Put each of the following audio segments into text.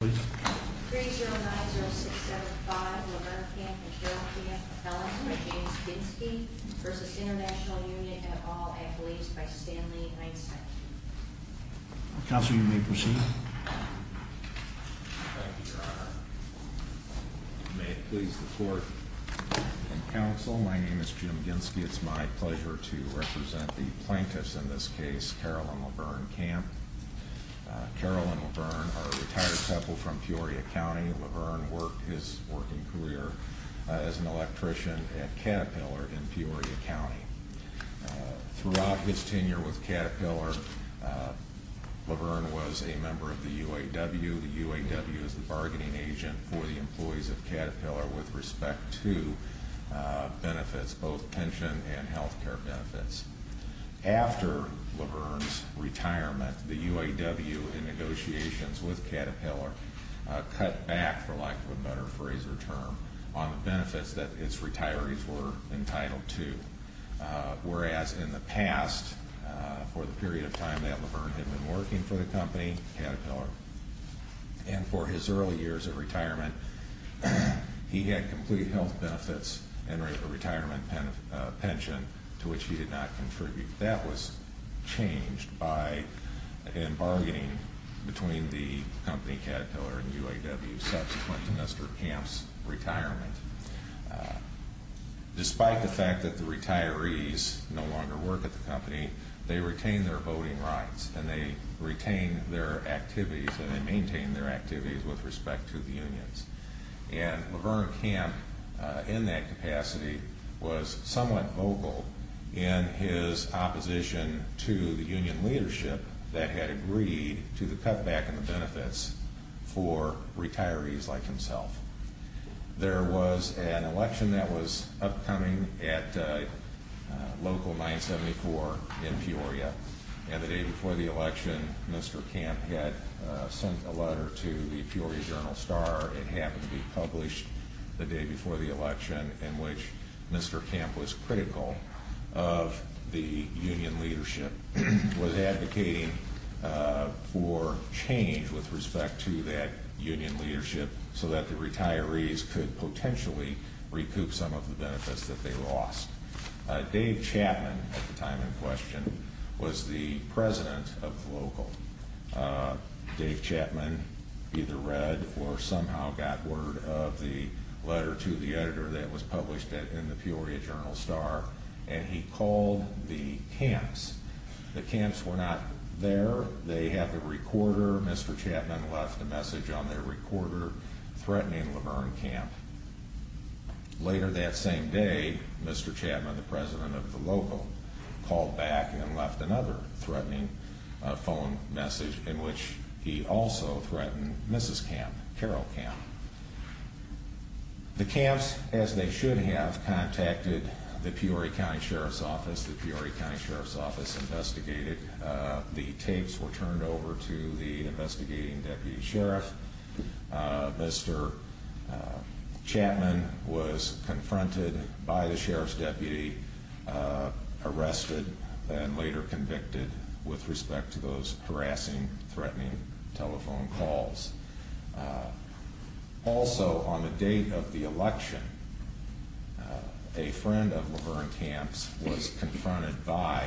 309-0675 Laverne Camp and Carol Camp felons by James Ginski v. International Union et al. at police by Stanley Einstein. Counsel, you may proceed. Thank you, Your Honor. May it please the court and counsel, my name is Jim Ginski. It's my pleasure to represent the plaintiffs in this case, Carol and Laverne Camp. Carol and Laverne are a retired couple from Peoria County. Laverne worked his working career as an electrician at Caterpillar in Peoria County. Throughout his tenure with Caterpillar, Laverne was a member of the UAW. The UAW is the bargaining agent for the employees of Caterpillar with respect to benefits, both pension and health care benefits. After Laverne's retirement, the UAW in negotiations with Caterpillar cut back, for lack of a better phrase or term, on the benefits that its retirees were entitled to. Whereas in the past, for the period of time that Laverne had been working for the company, Caterpillar, and for his early years of retirement, he had complete health benefits and a retirement pension to which he did not contribute. That was changed by a bargaining between the company Caterpillar and UAW subsequent to Mr. Camp's retirement. Despite the fact that the retirees no longer work at the company, they retain their voting rights and they retain their activities and they maintain their activities with respect to the unions. And Laverne Camp, in that capacity, was somewhat vocal in his opposition to the union leadership that had agreed to the cut back in the benefits for retirees like himself. There was an election that was upcoming at local 974 in Peoria. And the day before the election, Mr. Camp had sent a letter to the Peoria Journal-Star. It happened to be published the day before the election in which Mr. Camp was critical of the union leadership, was advocating for change with respect to that union leadership so that the retirees could potentially recoup some of the benefits that they lost. Dave Chapman, at the time in question, was the president of the local. Dave Chapman either read or somehow got word of the letter to the editor that was published in the Peoria Journal-Star and he called the camps. The camps were not there. They had the recorder. Mr. Chapman left a message on their recorder threatening Laverne Camp. Later that same day, Mr. Chapman, the president of the local, called back and left another threatening phone message in which he also threatened Mrs. Camp, Carol Camp. The camps, as they should have, contacted the Peoria County Sheriff's Office. The Peoria County Sheriff's Office investigated. The tapes were turned over to the investigating deputy sheriff. Mr. Chapman was confronted by the sheriff's deputy, arrested, and later convicted with respect to those harassing, threatening telephone calls. Also, on the date of the election, a friend of Laverne Camp's was confronted by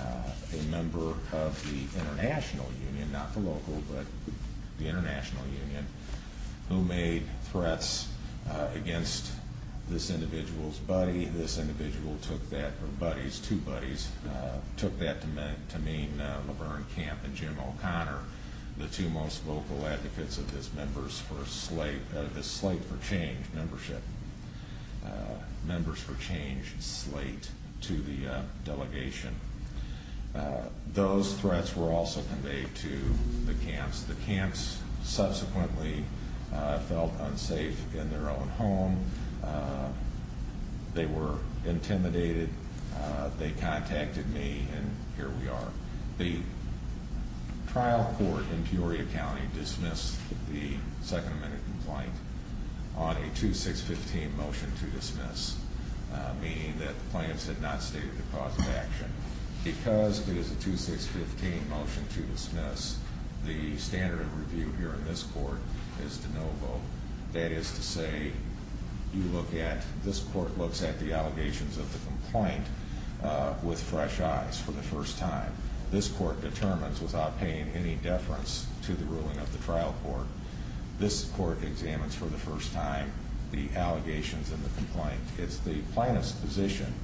a member of the international union, not the local, but the international union, who made threats against this individual's buddy. This individual took that, or buddies, two buddies, took that to mean Laverne Camp and Jim O'Connor, the two most vocal advocates of this slate for change membership, members for change slate to the delegation. Those threats were also conveyed to the camps. The camps subsequently felt unsafe in their own home. They were intimidated. They contacted me, and here we are. The trial court in Peoria County dismissed the second amendment complaint on a 2-6-15 motion to dismiss, meaning that the plaintiffs had not stated the cause of action. Because it is a 2-6-15 motion to dismiss, the standard of review here in this court is to no vote. That is to say, you look at, this court looks at the allegations of the complaint with fresh eyes for the first time. This court determines without paying any deference to the ruling of the trial court. This court examines for the first time the allegations in the complaint. It's the plaintiff's position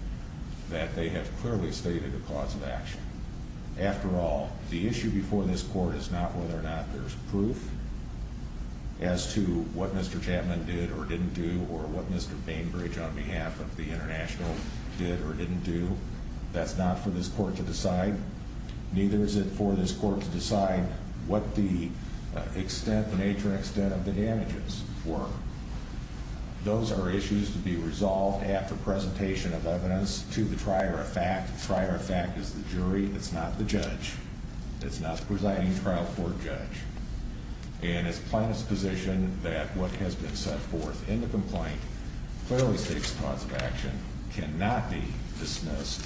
that they have clearly stated the cause of action. After all, the issue before this court is not whether or not there's proof as to what Mr. Chapman did or didn't do or what Mr. Bainbridge on behalf of the international did or didn't do. That's not for this court to decide. Neither is it for this court to decide what the extent, the nature and extent of the damages were. Those are issues to be resolved after presentation of evidence to the trier of fact. The trier of fact is the jury. It's not the judge. It's not the presiding trial court judge. And it's the plaintiff's position that what has been set forth in the complaint clearly states the cause of action cannot be dismissed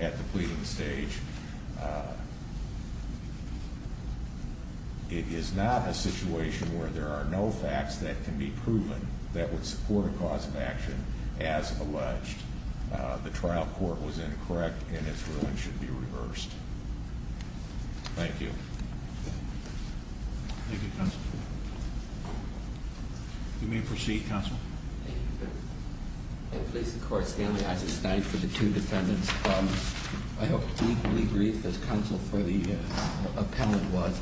at the pleading stage. It is not a situation where there are no facts that can be proven that would support a cause of action as alleged. The trial court was incorrect and its ruling should be reversed. Thank you. Thank you, counsel. You may proceed, counsel. Thank you. I please the court, Stanley Isaac Stein, for the two defendants. I hope to be brief as counsel for the appellant was.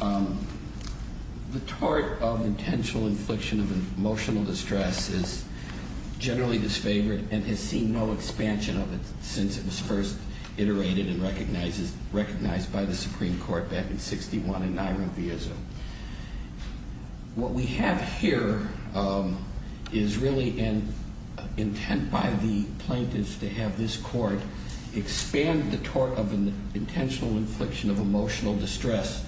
The tort of intentional infliction of emotional distress is generally disfavored and has seen no expansion of it since it was first iterated and recognized by the Supreme Court back in 61 in Nairobi, Israel. What we have here is really an intent by the plaintiffs to have this court expand the tort of intentional infliction of emotional distress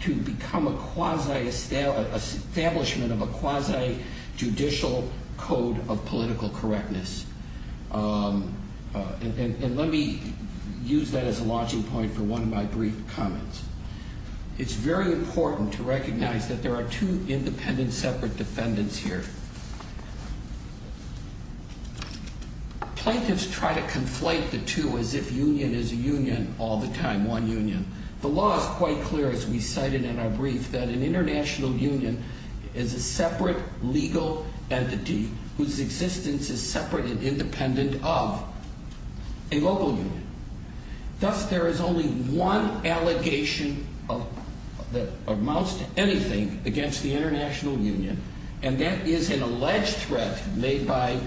to become a quasi-establishment of a quasi-judicial code of political correctness. And let me use that as a launching point for one of my brief comments. It's very important to recognize that there are two independent separate defendants here. Plaintiffs try to conflate the two as if union is a union all the time, one union. The law is quite clear, as we cited in our brief, that an international union is a separate legal entity whose existence is separate and independent of a local union. Thus, there is only one allegation that amounts to anything against the international union and that is an alleged threat made by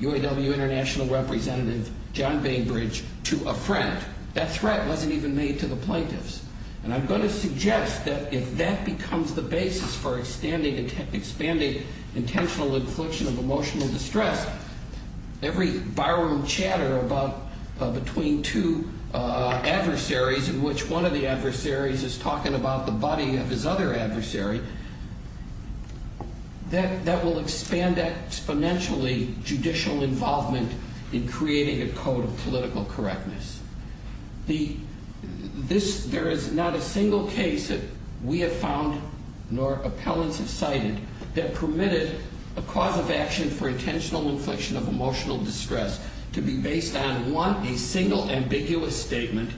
UAW international representative John Bainbridge to a friend. That threat wasn't even made to the plaintiffs. And I'm going to suggest that if that becomes the basis for expanding intentional infliction of emotional distress, every barroom chatter between two adversaries in which one of the adversaries is talking about the body of his other adversary, that will expand exponentially judicial involvement in creating a code of political correctness. There is not a single case that we have found, nor appellants have cited, that permitted a cause of action for intentional infliction of emotional distress to be based on, one, a single ambiguous statement,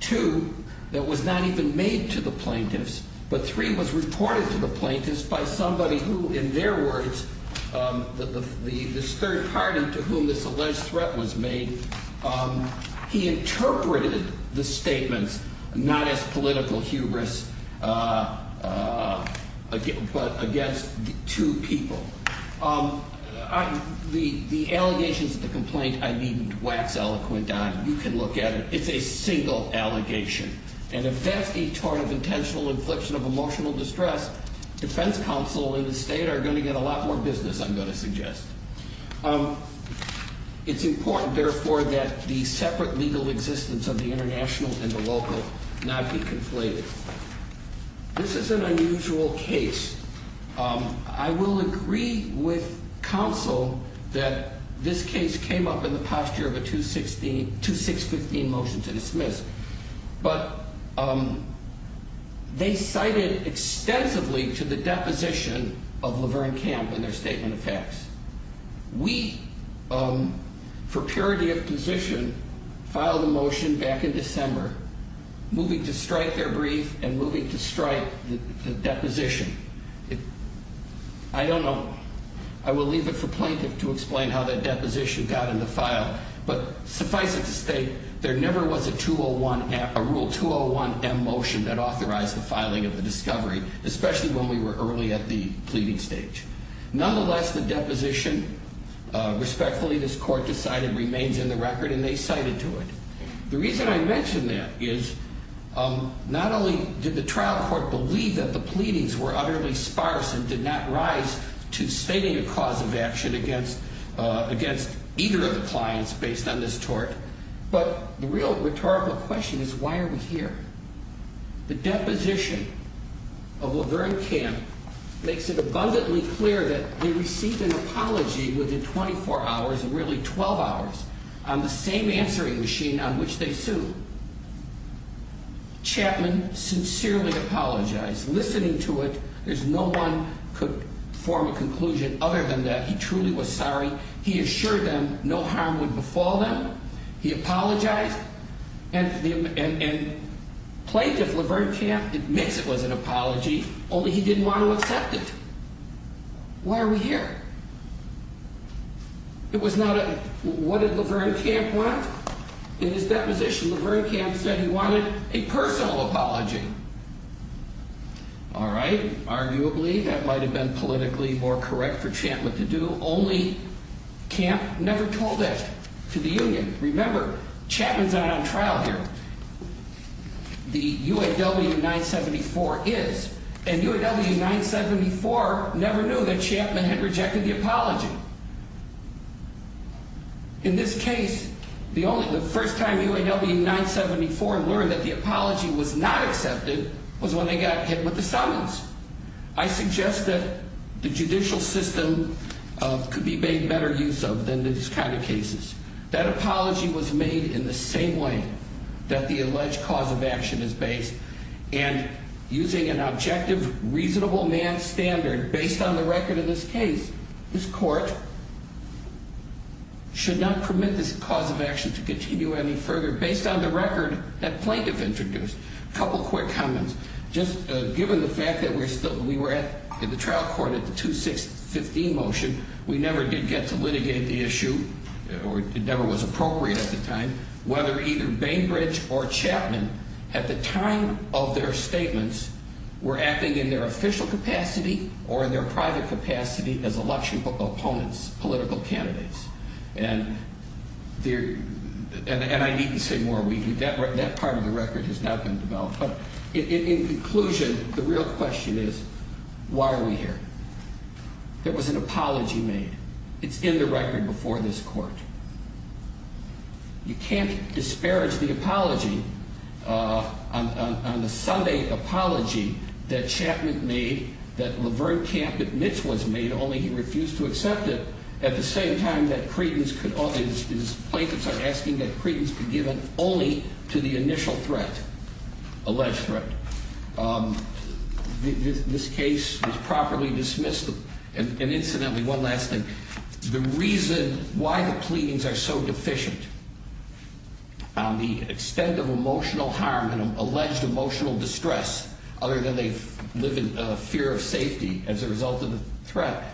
two, that was not even made to the plaintiffs, but three, was reported to the plaintiffs by somebody who, in their words, this third party to whom this alleged threat was made, he interpreted the statements not as political hubris, but against two people. The allegations of the complaint I needn't wax eloquent on. You can look at it. It's a single allegation. And if that's a tort of intentional infliction of emotional distress, defense counsel in the state are going to get a lot more business, I'm going to suggest. It's important, therefore, that the separate legal existence of the international and the local not be conflated. This is an unusual case. I will agree with counsel that this case came up in the posture of a 2-6-15 motion to dismiss, but they cited extensively to the deposition of Laverne Camp in their statement of facts. We, for purity of position, filed a motion back in December, moving to strike their brief and moving to strike the deposition. I don't know. I will leave it for plaintiff to explain how that deposition got in the file, but suffice it to state there never was a Rule 201M motion that authorized the filing of the discovery, especially when we were early at the pleading stage. Nonetheless, the deposition, respectfully, this court decided remains in the record, and they cited to it. The reason I mention that is not only did the trial court believe that the pleadings were utterly sparse and did not rise to stating a cause of action against either of the clients based on this tort, but the real rhetorical question is why are we here? The deposition of Laverne Camp makes it abundantly clear that they received an apology within 24 hours, and really 12 hours, on the same answering machine on which they sued. Chapman sincerely apologized. Listening to it, there's no one could form a conclusion other than that he truly was sorry. He assured them no harm would befall them. He apologized, and plaintiff Laverne Camp admits it was an apology, only he didn't want to accept it. Why are we here? It was not a, what did Laverne Camp want? In his deposition, Laverne Camp said he wanted a personal apology. All right. Arguably, that might have been politically more correct for Chapman to do. Only Camp never told that to the union. Remember, Chapman's not on trial here. The UAW-974 is, and UAW-974 never knew that Chapman had rejected the apology. In this case, the only, the first time UAW-974 learned that the apology was not accepted was when they got hit with the summons. I suggest that the judicial system could be made better use of than these kind of cases. That apology was made in the same way that the alleged cause of action is based, and using an objective, reasonable man standard, based on the record of this case, this court should not permit this cause of action to continue any further based on the record that plaintiff introduced. A couple quick comments. Just given the fact that we were in the trial court at the 2-6-15 motion, we never did get to litigate the issue, or it never was appropriate at the time, whether either Bainbridge or Chapman, at the time of their statements, were acting in their official capacity or in their private capacity as election opponents, political candidates. And I needn't say more. That part of the record has not been developed. In conclusion, the real question is, why are we here? There was an apology made. It's in the record before this court. You can't disparage the apology on the Sunday apology that Chapman made, that Laverne Camp admits was made, only he refused to accept it, at the same time that his plaintiffs are asking that credence be given only to the initial threat, alleged threat. This case was properly dismissed. And incidentally, one last thing. The reason why the pleadings are so deficient on the extent of emotional harm and alleged emotional distress, other than they live in fear of safety as a result of the threat,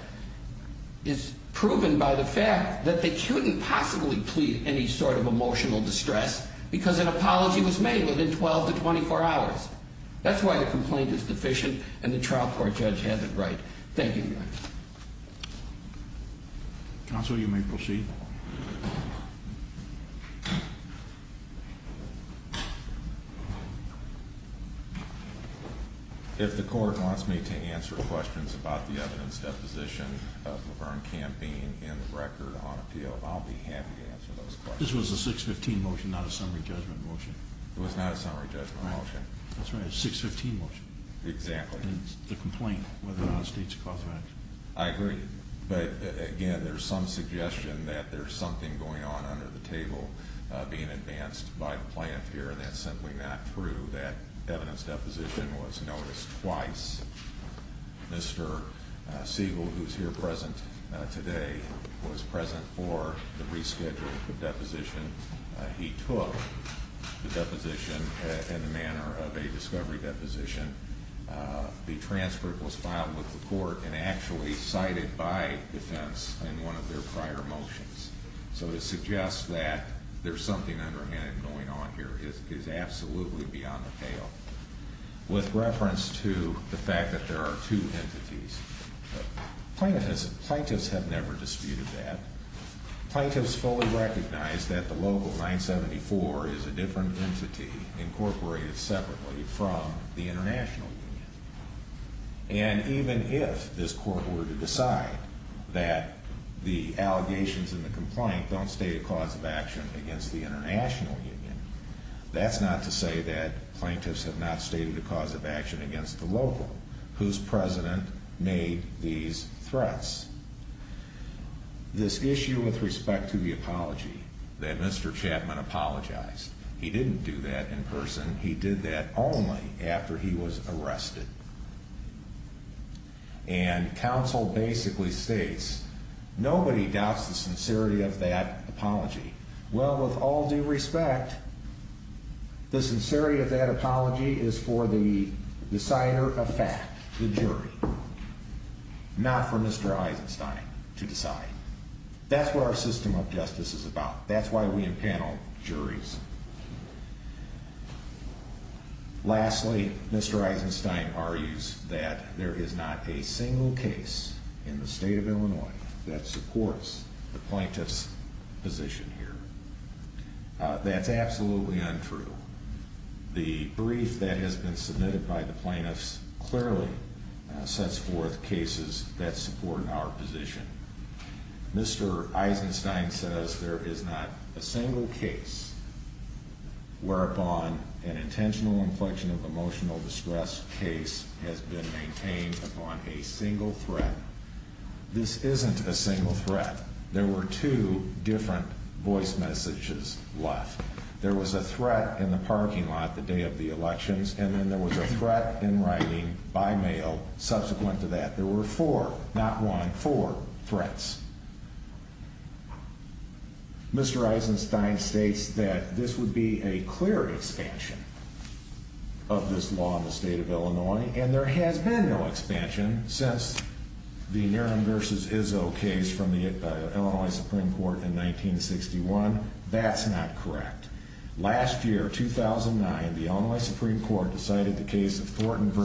is proven by the fact that they couldn't possibly plead any sort of emotional distress because an apology was made within 12 to 24 hours. That's why the complaint is deficient and the trial court judge had it right. Thank you. Counsel, you may proceed. If the court wants me to answer questions about the evidence deposition of Laverne Camp being in the record on appeal, I'll be happy to answer those questions. This was a 615 motion, not a summary judgment motion. It was not a summary judgment motion. That's right, a 615 motion. Exactly. And it's the complaint within our state's cause of action. I agree. But again, there's some suggestion that there's something going on under the table being advanced by the plaintiff here, and that's simply not true. That evidence deposition was noticed twice. Mr. Siegel, who's here present today, was present for the rescheduled deposition. He took the deposition in the manner of a discovery deposition. The transcript was filed with the court and actually cited by defense in one of their prior motions. So to suggest that there's something underhanded going on here is absolutely beyond appeal. With reference to the fact that there are two entities, plaintiffs have never disputed that. Plaintiffs fully recognize that the local 974 is a different entity incorporated separately from the international union. And even if this court were to decide that the allegations in the complaint don't state a cause of action against the international union, that's not to say that plaintiffs have not stated a cause of action against the local, whose president made these threats. This issue with respect to the apology, that Mr. Chapman apologized. He didn't do that in person. He did that only after he was arrested. And counsel basically states, nobody doubts the sincerity of that apology. Well, with all due respect, the sincerity of that apology is for the decider of fact, the jury, not for Mr. Eisenstein to decide. That's what our system of justice is about. That's why we impanel juries. Lastly, Mr. Eisenstein argues that there is not a single case in the state of Illinois that supports the plaintiff's position here. That's absolutely untrue. The brief that has been submitted by the plaintiffs clearly sets forth cases that support our position. Mr. Eisenstein says there is not a single case whereupon an intentional inflection of emotional distress case has been maintained upon a single threat. This isn't a single threat. There were two different voice messages left. There was a threat in the parking lot the day of the elections, and then there was a threat in writing by mail subsequent to that. There were four, not one, four threats. Mr. Eisenstein states that this would be a clear expansion of this law in the state of Illinois. And there has been no expansion since the Niren v. Izzo case from the Illinois Supreme Court in 1961. That's not correct. Last year, 2009, the Illinois Supreme Court decided the case of Thornton v.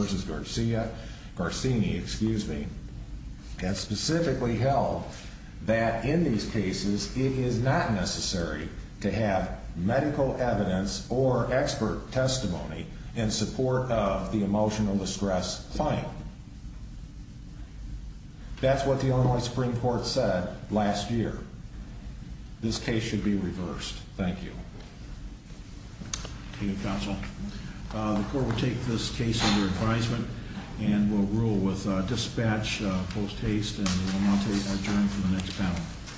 Garcini and specifically held that in these cases, it is not necessary to have medical evidence or expert testimony in support of the emotional distress claim. That's what the Illinois Supreme Court said last year. This case should be reversed. Thank you. Thank you, counsel. The court will take this case under advisement and will rule with dispatch post haste, and we will now adjourn to the next panel.